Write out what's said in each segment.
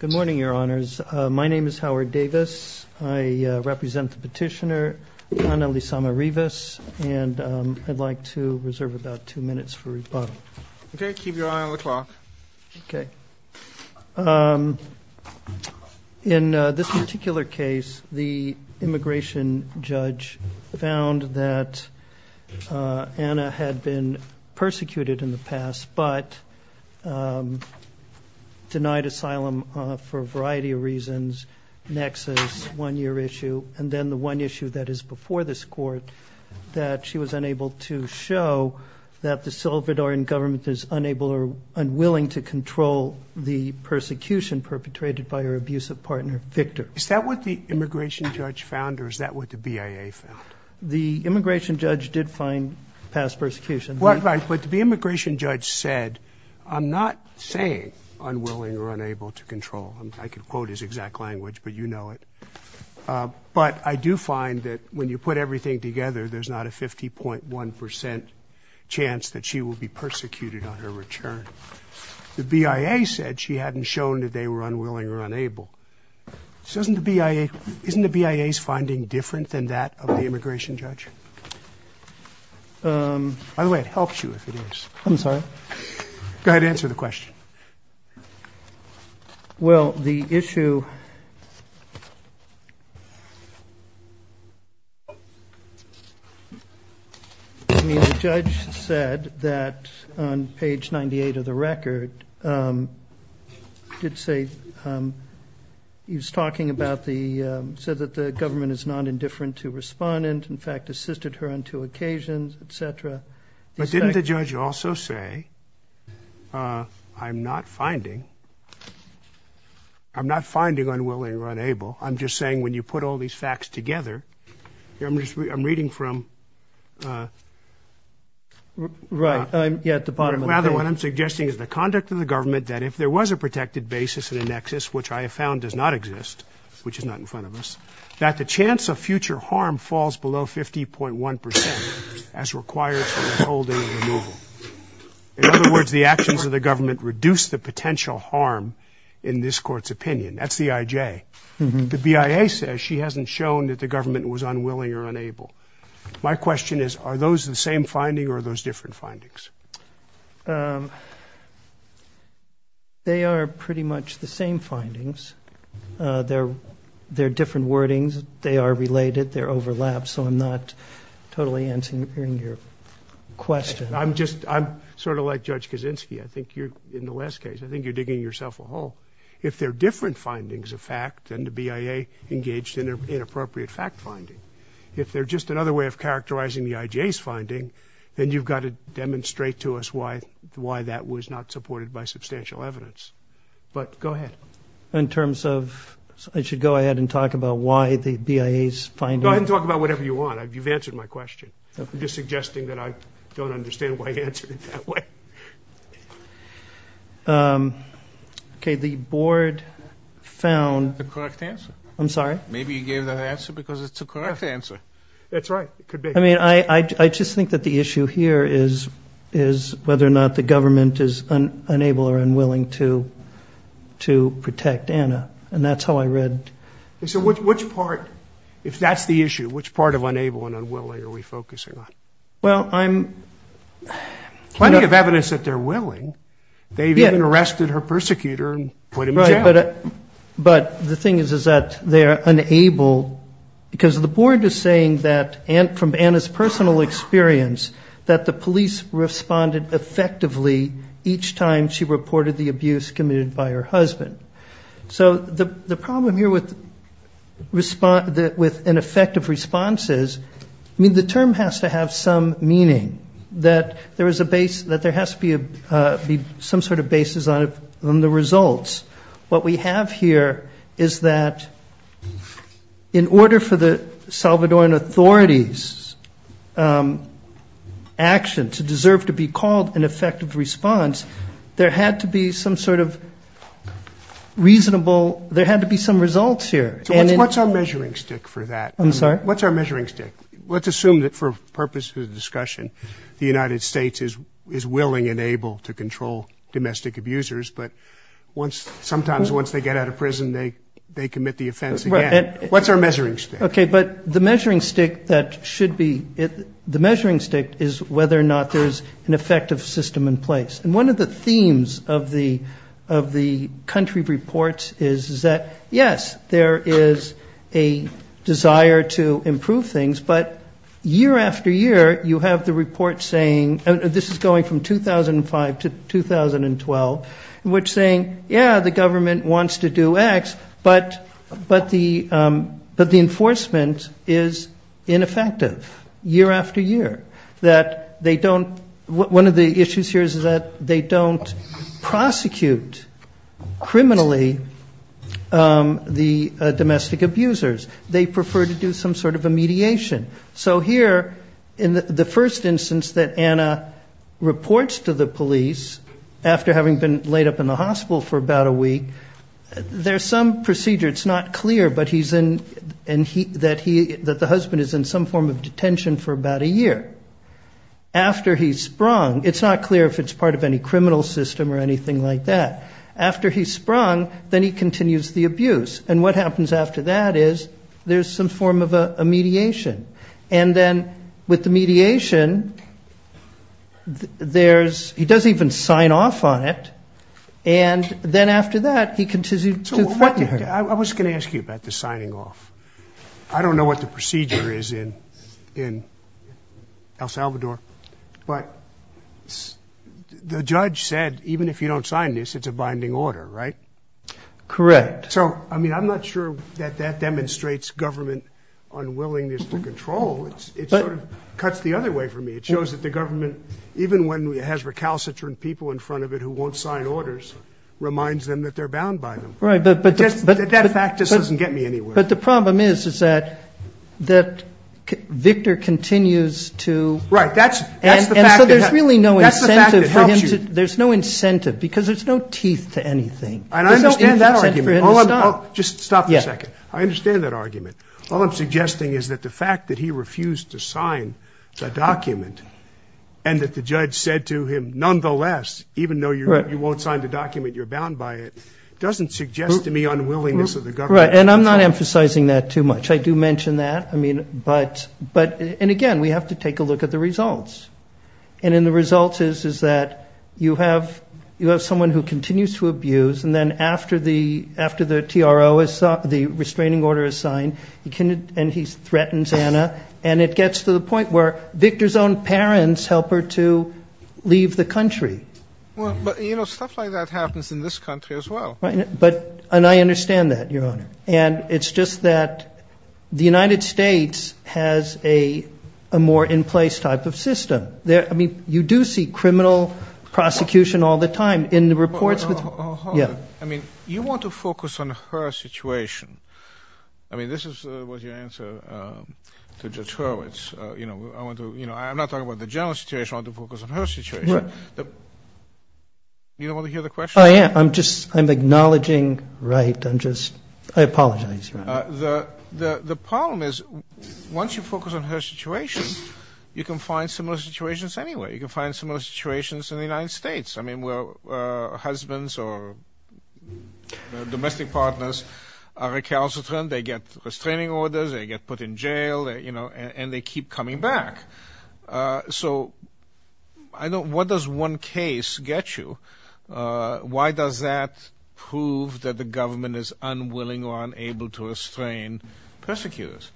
Good morning, Your Honors. My name is Howard Davis. I represent the petitioner Ana Lizama Rivas and I'd like to reserve about two minutes for rebuttal. Okay, keep your eye on the clock. Okay. In this particular case, the immigration judge found that Ana had been persecuted in the past, but denied asylum for a variety of reasons. The immigration judge found that Ana had been persecuted in the past, but denied asylum for a variety of reasons. But I do find that when you put everything together, there's not a 50.1% chance that she will be persecuted on her return. The BIA said she hadn't shown that they were unwilling or unable. Isn't the BIA's finding different than that of the immigration judge? By the way, it helps you if it is. I'm sorry? Go ahead and answer the question. Well, the issue, I mean, the judge said that on page 98 of the record, did say, he was talking about the, said that the government is not indifferent to respondent, in fact, assisted her on two occasions, etc. But didn't the judge also say, I'm not finding, I'm not finding unwilling or unable, I'm just saying when you put all these facts together, I'm reading from... Right, yeah, at the bottom of the page. In other words, the actions of the government reduce the potential harm in this court's opinion. That's the IJ. The BIA says she hasn't shown that the government was unwilling or unable. My question is, are those the same finding or are those different findings? They are pretty much the same findings. They're different wordings. They are related. They're overlapped. So I'm not totally answering your question. I'm just, I'm sort of like Judge Kaczynski. I think you're, in the last case, I think you're digging yourself a hole. If they're different findings of fact, then the BIA engaged in inappropriate fact finding. If they're just another way of characterizing the IJ's finding, then you've got to demonstrate to us why that was not supported by substantial evidence. But go ahead. In terms of, I should go ahead and talk about why the BIA's finding... Go ahead and talk about whatever you want. You've answered my question. I'm just suggesting that I don't understand why you answered it that way. Okay, the board found... The correct answer. I'm sorry? Maybe you gave that answer because it's the correct answer. That's right. I mean, I just think that the issue here is whether or not the government is unable or unwilling to protect Anna. And that's how I read... So which part, if that's the issue, which part of unable and unwilling are we focusing on? Well, I'm... Plenty of evidence that they're willing. They've even arrested her persecutor and put him in jail. But the thing is that they're unable because the board is saying that, from Anna's personal experience, that the police responded effectively each time she reported the abuse committed by her husband. So the problem here with an effective response is, I mean, the term has to have some meaning, that there has to be some sort of basis on the results. What we have here is that, in order for the Salvadoran authorities' action to deserve to be called an effective response, there had to be some sort of reasonable, there had to be some results here. So what's our measuring stick for that? I'm sorry? What's our measuring stick? Let's assume that, for purposes of discussion, the United States is willing and able to control domestic abusers. But sometimes, once they get out of prison, they commit the offense again. What's our measuring stick? Okay, but the measuring stick that should be, the measuring stick is whether or not there's an effective system in place. And one of the themes of the country reports is that, yes, there is a desire to improve things. But year after year, you have the report saying, this is going from 2005 to 2012, which is saying, yes, the government wants to do X, but the enforcement is ineffective year after year. That they don't, one of the issues here is that they don't prosecute criminally the domestic abusers. They prefer to do some sort of a mediation. So here, in the first instance that Anna reports to the police, after having been laid up in the hospital for about a week, there's some procedure. It's not clear, but he's in, that the husband is in some form of detention for about a year. After he's sprung, it's not clear if it's part of any criminal system or anything like that. And what happens after that is there's some form of a mediation. And then with the mediation, there's, he doesn't even sign off on it. And then after that, he continues to. I was going to ask you about the signing off. I don't know what the procedure is in El Salvador. But the judge said, even if you don't sign this, it's a binding order, right? Correct. So, I mean, I'm not sure that that demonstrates government unwillingness to control. It sort of cuts the other way for me. It shows that the government, even when it has recalcitrant people in front of it who won't sign orders, reminds them that they're bound by them. Right, but. That fact just doesn't get me anywhere. But the problem is, is that Victor continues to. Right, that's the fact. And so there's really no incentive for him to. That's the fact that it helps you. There's no incentive because there's no teeth to anything. And I understand that argument. Just stop for a second. I understand that argument. All I'm suggesting is that the fact that he refused to sign the document and that the judge said to him, nonetheless, even though you won't sign the document, you're bound by it, doesn't suggest to me unwillingness of the government. Right, and I'm not emphasizing that too much. I do mention that. I mean, but, and again, we have to take a look at the results. And in the results is, is that you have, you have someone who continues to abuse. And then after the, after the TRO is, the restraining order is signed, you can, and he threatens Anna. And it gets to the point where Victor's own parents help her to leave the country. Well, but, you know, stuff like that happens in this country as well. Right, but, and I understand that, Your Honor. And it's just that the United States has a, a more in place type of system there. I mean, you do see criminal prosecution all the time in the reports. Yeah. I mean, you want to focus on her situation. I mean, this is what your answer to judge Hurwitz. You know, I want to, you know, I'm not talking about the general situation. I want to focus on her situation. You don't want to hear the question? I am. I'm just, I'm acknowledging, right. I'm just, I apologize, Your Honor. The, the problem is once you focus on her situation, you can find similar situations anywhere. You can find similar situations in the United States. I mean, where husbands or domestic partners are recalcitrant, they get restraining orders, they get put in jail, you know, and they keep coming back. So, I don't, what does one case get you? Why does that prove that the government is unwilling or unable to restrain persecutors?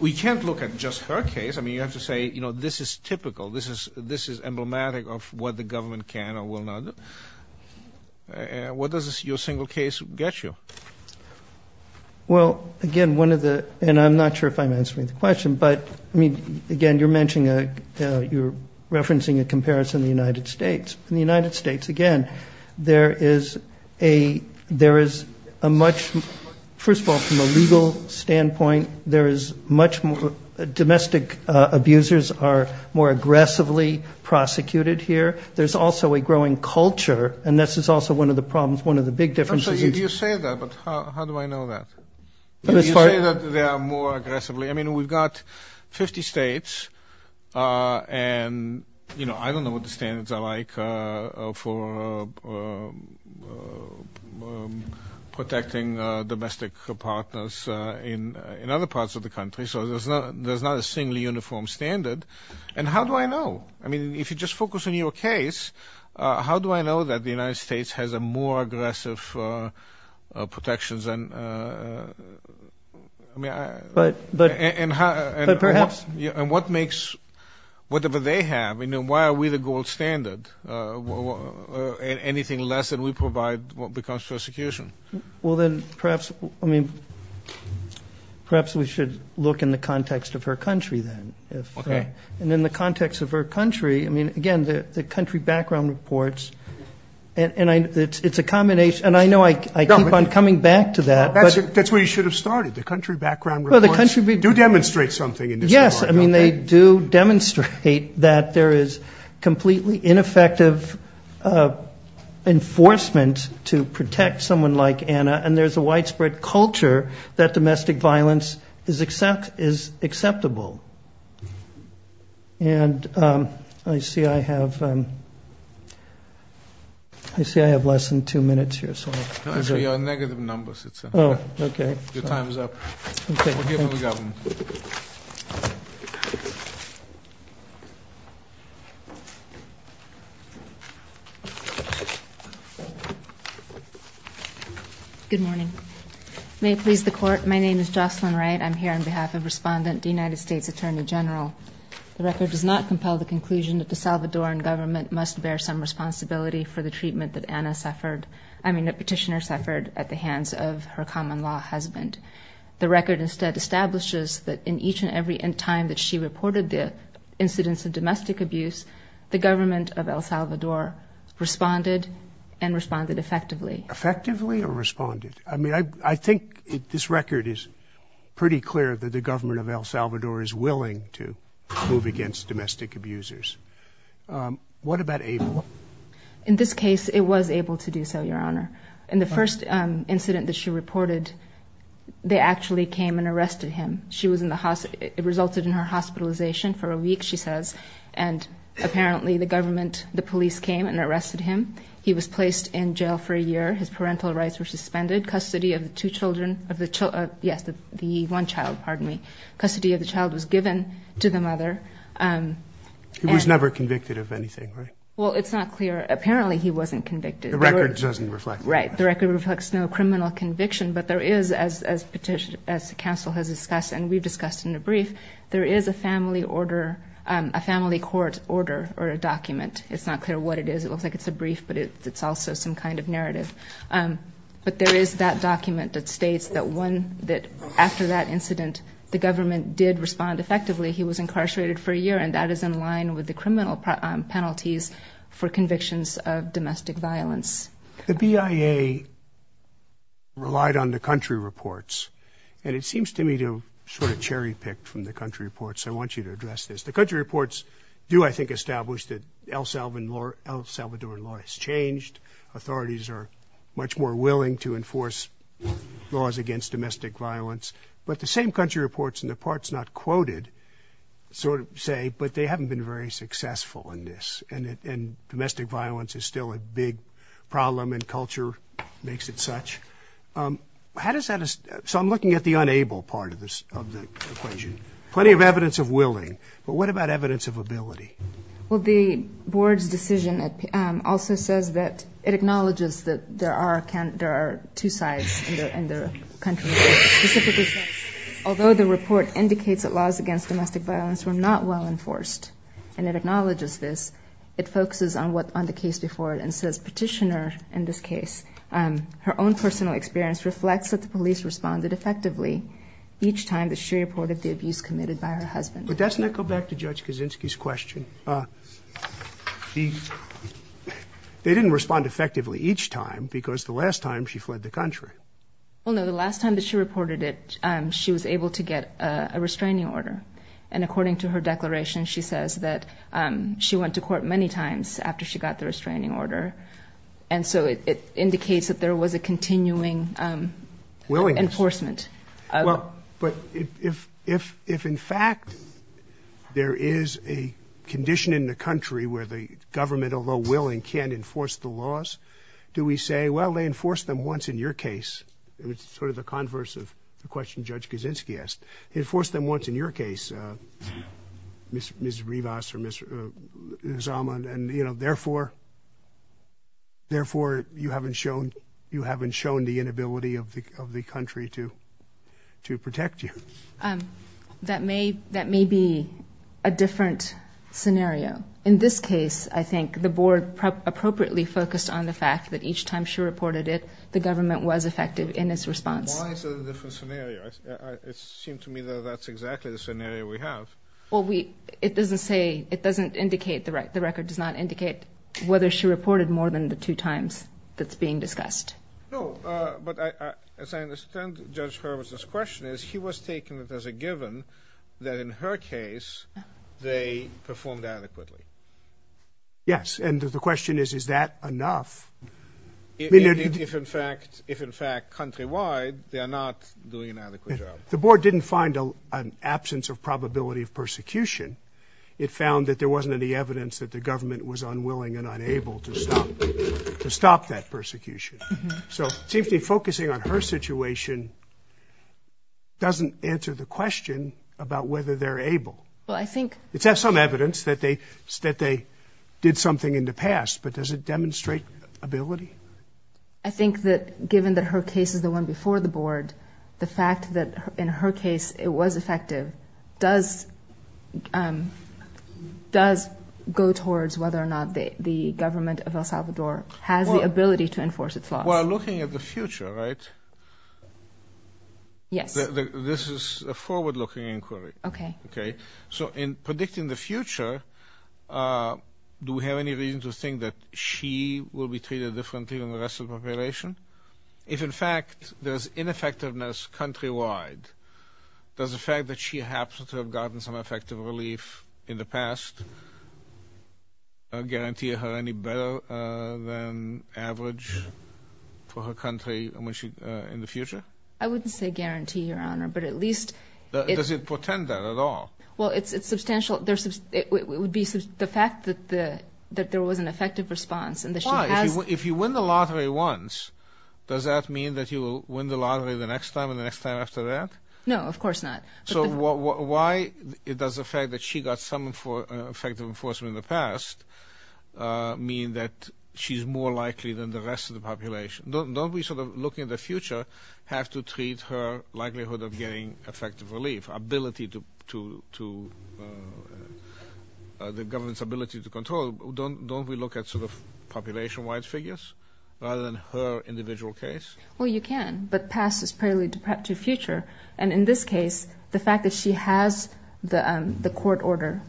We can't look at just her case. I mean, you have to say, you know, this is typical. This is, this is emblematic of what the government can or will not do. What does your single case get you? Well, again, one of the, and I'm not sure if I'm answering the question, but I mean, again, you're mentioning a, you're referencing a comparison in the United States. In the United States, again, there is a, there is a much, first of all, from a legal standpoint, there is much more, domestic abusers are more aggressively prosecuted here. There's also a growing culture, and this is also one of the problems, one of the big differences. You say that, but how do I know that? You say that they are more aggressively. I mean, we've got 50 states, and, you know, I don't know what the standards are like for protecting domestic partners in other parts of the country. So there's not a singly uniform standard. And how do I know? I mean, if you just focus on your case, how do I know that the United States has a more aggressive protections? I mean, I. But perhaps. And what makes, whatever they have, you know, why are we the gold standard? Anything less than we provide becomes persecution. Well, then, perhaps, I mean, perhaps we should look in the context of her country, then. Okay. And in the context of her country, I mean, again, the country background reports, and it's a combination. And I know I keep on coming back to that. That's where you should have started. The country background reports do demonstrate something in this regard. Yes. I mean, they do demonstrate that there is completely ineffective enforcement to protect someone like Anna, and there's a widespread culture that domestic violence is acceptable. And I see I have, I see I have less than two minutes here, so. Actually, you're on negative numbers. Oh, okay. Your time's up. Okay. We'll give it to the government. Good morning. May it please the court. My name is Jocelyn Wright. I'm here on behalf of Respondent, the United States Attorney General. The record does not compel the conclusion that the Salvadoran government must bear some responsibility for the treatment that Anna suffered, I mean, that Petitioner suffered at the hands of her common-law husband. The record instead establishes that in each and every time that she reported the incidents of domestic abuse, the government of El Salvador responded and responded effectively. Effectively or responded? I mean, I think this record is pretty clear that the government of El Salvador is willing to move against domestic abusers. What about Abel? In this case, it was able to do so, Your Honor. In the first incident that she reported, they actually came and arrested him. She was in the hospital, it resulted in her hospitalization for a week, she says, and apparently the government, the police came and arrested him. He was placed in jail for a year. His parental rights were suspended. Custody of the two children, yes, the one child, pardon me, custody of the child was given to the mother. He was never convicted of anything, right? Well, it's not clear. Apparently he wasn't convicted. The record doesn't reflect that. Right. The record reflects no criminal conviction, but there is, as the counsel has discussed and we've discussed in the brief, there is a family order, a family court order or a document. It's not clear what it is. It looks like it's a brief, but it's also some kind of narrative. But there is that document that states that after that incident, the government did respond effectively. He was incarcerated for a year, and that is in line with the criminal penalties for convictions of domestic violence. The BIA relied on the country reports, and it seems to me to have sort of cherry-picked from the country reports. I want you to address this. The country reports do, I think, establish that El Salvadoran law has changed. Authorities are much more willing to enforce laws against domestic violence. But the same country reports in the parts not quoted sort of say, but they haven't been very successful in this, and domestic violence is still a big problem and culture makes it such. How does that—so I'm looking at the unable part of the equation. Plenty of evidence of willing, but what about evidence of ability? Well, the board's decision also says that it acknowledges that there are two sides in the country. Specifically, although the report indicates that laws against domestic violence were not well enforced, and it acknowledges this, it focuses on the case before it and says petitioner in this case, her own personal experience reflects that the police responded effectively each time that she reported the abuse committed by her husband. But doesn't that go back to Judge Kaczynski's question? They didn't respond effectively each time because the last time she fled the country. Well, no, the last time that she reported it, she was able to get a restraining order. And according to her declaration, she says that she went to court many times after she got the restraining order. And so it indicates that there was a continuing enforcement. Well, but if in fact there is a condition in the country where the government, although willing, can't enforce the laws, do we say, well, they enforced them once in your case? It was sort of the converse of the question Judge Kaczynski asked. They enforced them once in your case, Ms. Rivas or Ms. Zama, and, you know, therefore, therefore you haven't shown the inability of the country to protect you. That may be a different scenario. In this case, I think the board appropriately focused on the fact that each time she reported it, the government was effective in its response. Why is it a different scenario? It seemed to me that that's exactly the scenario we have. Well, it doesn't say, it doesn't indicate, the record does not indicate whether she reported more than the two times that's being discussed. No, but as I understand Judge Hurwitz's question is, he was taking it as a given that in her case they performed adequately. Yes, and the question is, is that enough? If, in fact, countrywide, they are not doing an adequate job. The board didn't find an absence of probability of persecution. It found that there wasn't any evidence that the government was unwilling and unable to stop that persecution. So it seems to me focusing on her situation doesn't answer the question about whether they're able. Well, I think... It's got some evidence that they did something in the past, but does it demonstrate ability? I think that given that her case is the one before the board, the fact that in her case it was effective, does go towards whether or not the government of El Salvador has the ability to enforce its laws. Well, looking at the future, right? Yes. This is a forward-looking inquiry. Okay. Okay. So in predicting the future, do we have any reason to think that she will be treated differently than the rest of the population? If, in fact, there's ineffectiveness countrywide, does the fact that she happens to have gotten some effective relief in the past guarantee her any better than average for her country in the future? I wouldn't say guarantee, Your Honor, but at least... Does it portend that at all? Well, it's substantial. It would be the fact that there was an effective response and that she has... Why? If you win the lottery once, does that mean that you will win the lottery the next time and the next time after that? No, of course not. So why does the fact that she got some effective enforcement in the past mean that she's more likely than the rest of the population? Don't we, sort of, looking at the future, have to treat her likelihood of getting effective relief, ability to...the government's ability to control? Don't we look at, sort of, population-wide figures rather than her individual case? Well, you can, but past is probably to future. And in this case, the fact that she has the court order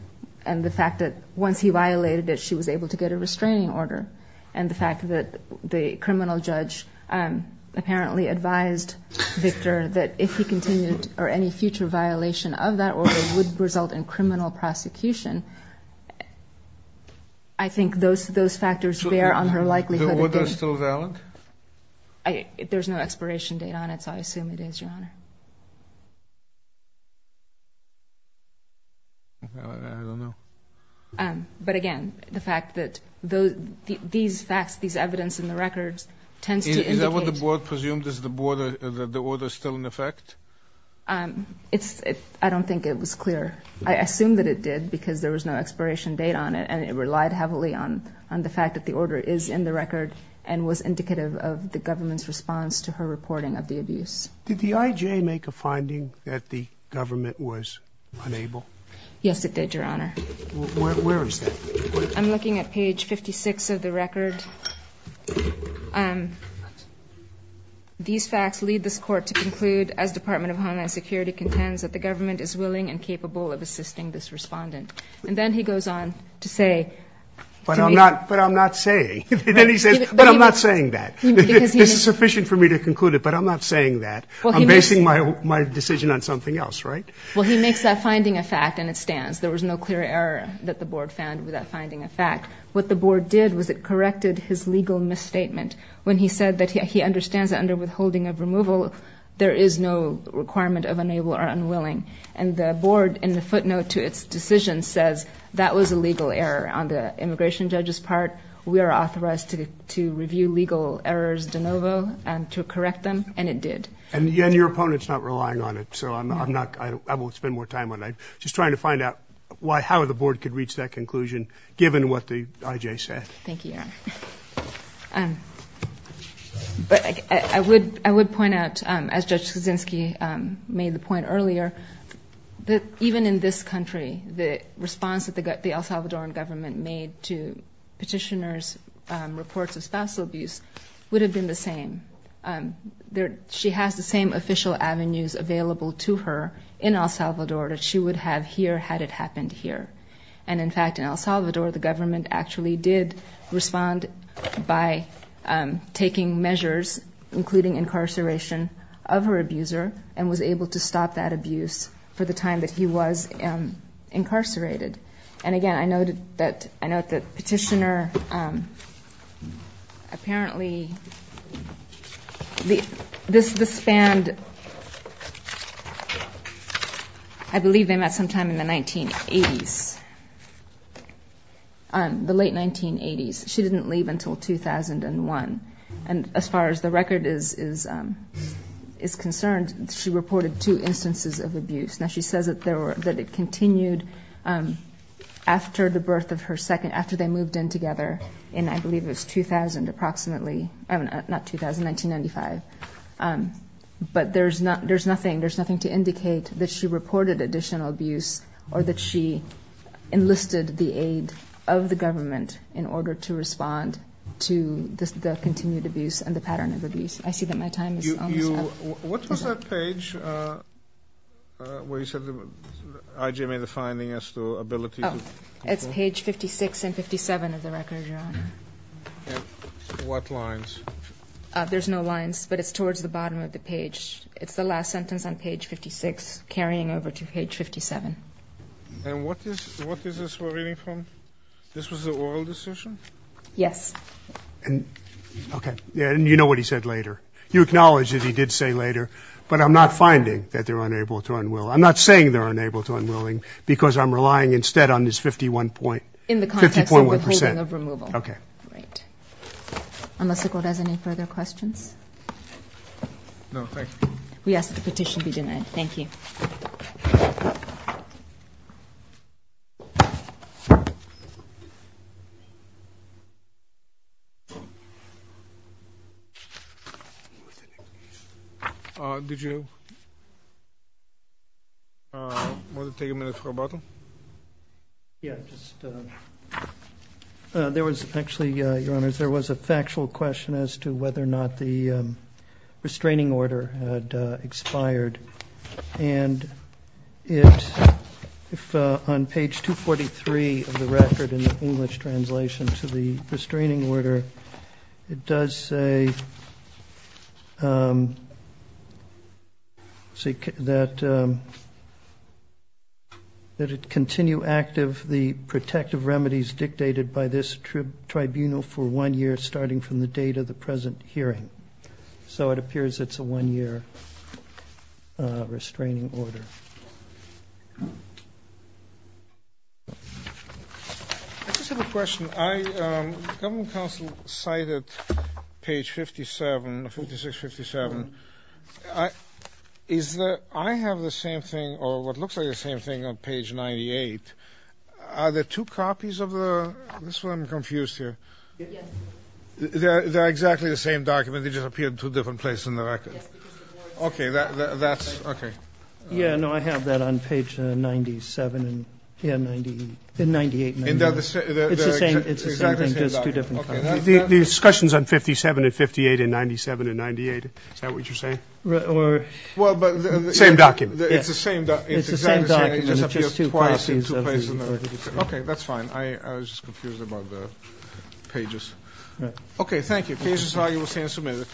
and the fact that once he violated it, she was able to get a restraining order, and the fact that the criminal judge apparently advised Victor that if he continued or any future violation of that order would result in criminal prosecution, I think those factors bear on her likelihood of getting... So would that still be valid? There's no expiration date on it, so I assume it is, Your Honor. I don't know. But again, the fact that these facts, these evidence in the records tends to indicate... Is that what the board presumed? Is the order still in effect? I don't think it was clear. I assume that it did because there was no expiration date on it, and it relied heavily on the fact that the order is in the record and was indicative of the government's response to her reporting of the abuse. Did the IJ make a finding that the government was unable? Yes, it did, Your Honor. Where is that? I'm looking at page 56 of the record. These facts lead this court to conclude, as Department of Homeland Security contends that the government is willing and capable of assisting this respondent. And then he goes on to say... But I'm not saying. Then he says, but I'm not saying that. This is sufficient for me to conclude it, but I'm not saying that. I'm basing my decision on something else, right? Well, he makes that finding a fact, and it stands. There was no clear error that the board found with that finding a fact. What the board did was it corrected his legal misstatement when he said that he understands that under withholding of removal, there is no requirement of unable or unwilling. And the board, in the footnote to its decision, says that was a legal error. On the immigration judge's part, we are authorized to review legal errors de novo and to correct them, and it did. And your opponent's not relying on it, so I won't spend more time on that. Just trying to find out how the board could reach that conclusion, given what the I.J. said. Thank you, Your Honor. I would point out, as Judge Kuczynski made the point earlier, that even in this country, the response that the El Salvadoran government made to petitioners' reports of spousal abuse would have been the same. She has the same official avenues available to her in El Salvador that she would have here had it happened here. And, in fact, in El Salvador, the government actually did respond by taking measures, including incarceration of her abuser, and was able to stop that abuse for the time that he was incarcerated. And, again, I note that Petitioner apparently, this spanned, I believe, sometime in the 1980s, the late 1980s. She didn't leave until 2001. And as far as the record is concerned, she reported two instances of abuse. Now, she says that it continued after the birth of her second, after they moved in together in, I believe it was 2000 approximately, not 2000, 1995. But there's nothing to indicate that she reported additional abuse or that she enlisted the aid of the government in order to respond to the continued abuse and the pattern of abuse. I see that my time is almost up. What was that page where you said I.J. made a finding as to ability to... It's page 56 and 57 of the record, Your Honor. And what lines? There's no lines, but it's towards the bottom of the page. It's the last sentence on page 56 carrying over to page 57. And what is this we're reading from? This was the oral decision? Yes. Okay. And you know what he said later. You acknowledge that he did say later, but I'm not finding that they're unable to unwill. I'm not saying they're unable to unwilling because I'm relying instead on this 51.1 percent. In the context of withholding of removal. Okay. Great. Unless the Court has any further questions? No. Thank you. We ask that the petition be denied. Thank you. Did you want to take a minute for a bottle? Yeah. There was actually, Your Honors, there was a factual question as to whether or not the restraining order had expired. And on page 243 of the record in the English translation to the restraining order, it does say that it continue active the protective remedies dictated by this tribunal for one year starting from the date of the present hearing. So it appears it's a one-year restraining order. I just have a question. The government counsel cited page 57, 56, 57. I have the same thing or what looks like the same thing on page 98. Are there two copies of the, this one I'm confused here. Yes. They're exactly the same document. They just appeared two different places in the record. Yes. Okay. That's okay. Yeah. No, I have that on page 97 and 98. It's the same thing, just two different copies. The discussion's on 57 and 58 and 97 and 98. Is that what you're saying? Same document. It's the same document. It's the same document. It just appeared twice in two places. Okay. That's fine. I was just confused about the pages. Okay. Thank you. This is how you will stand submitted.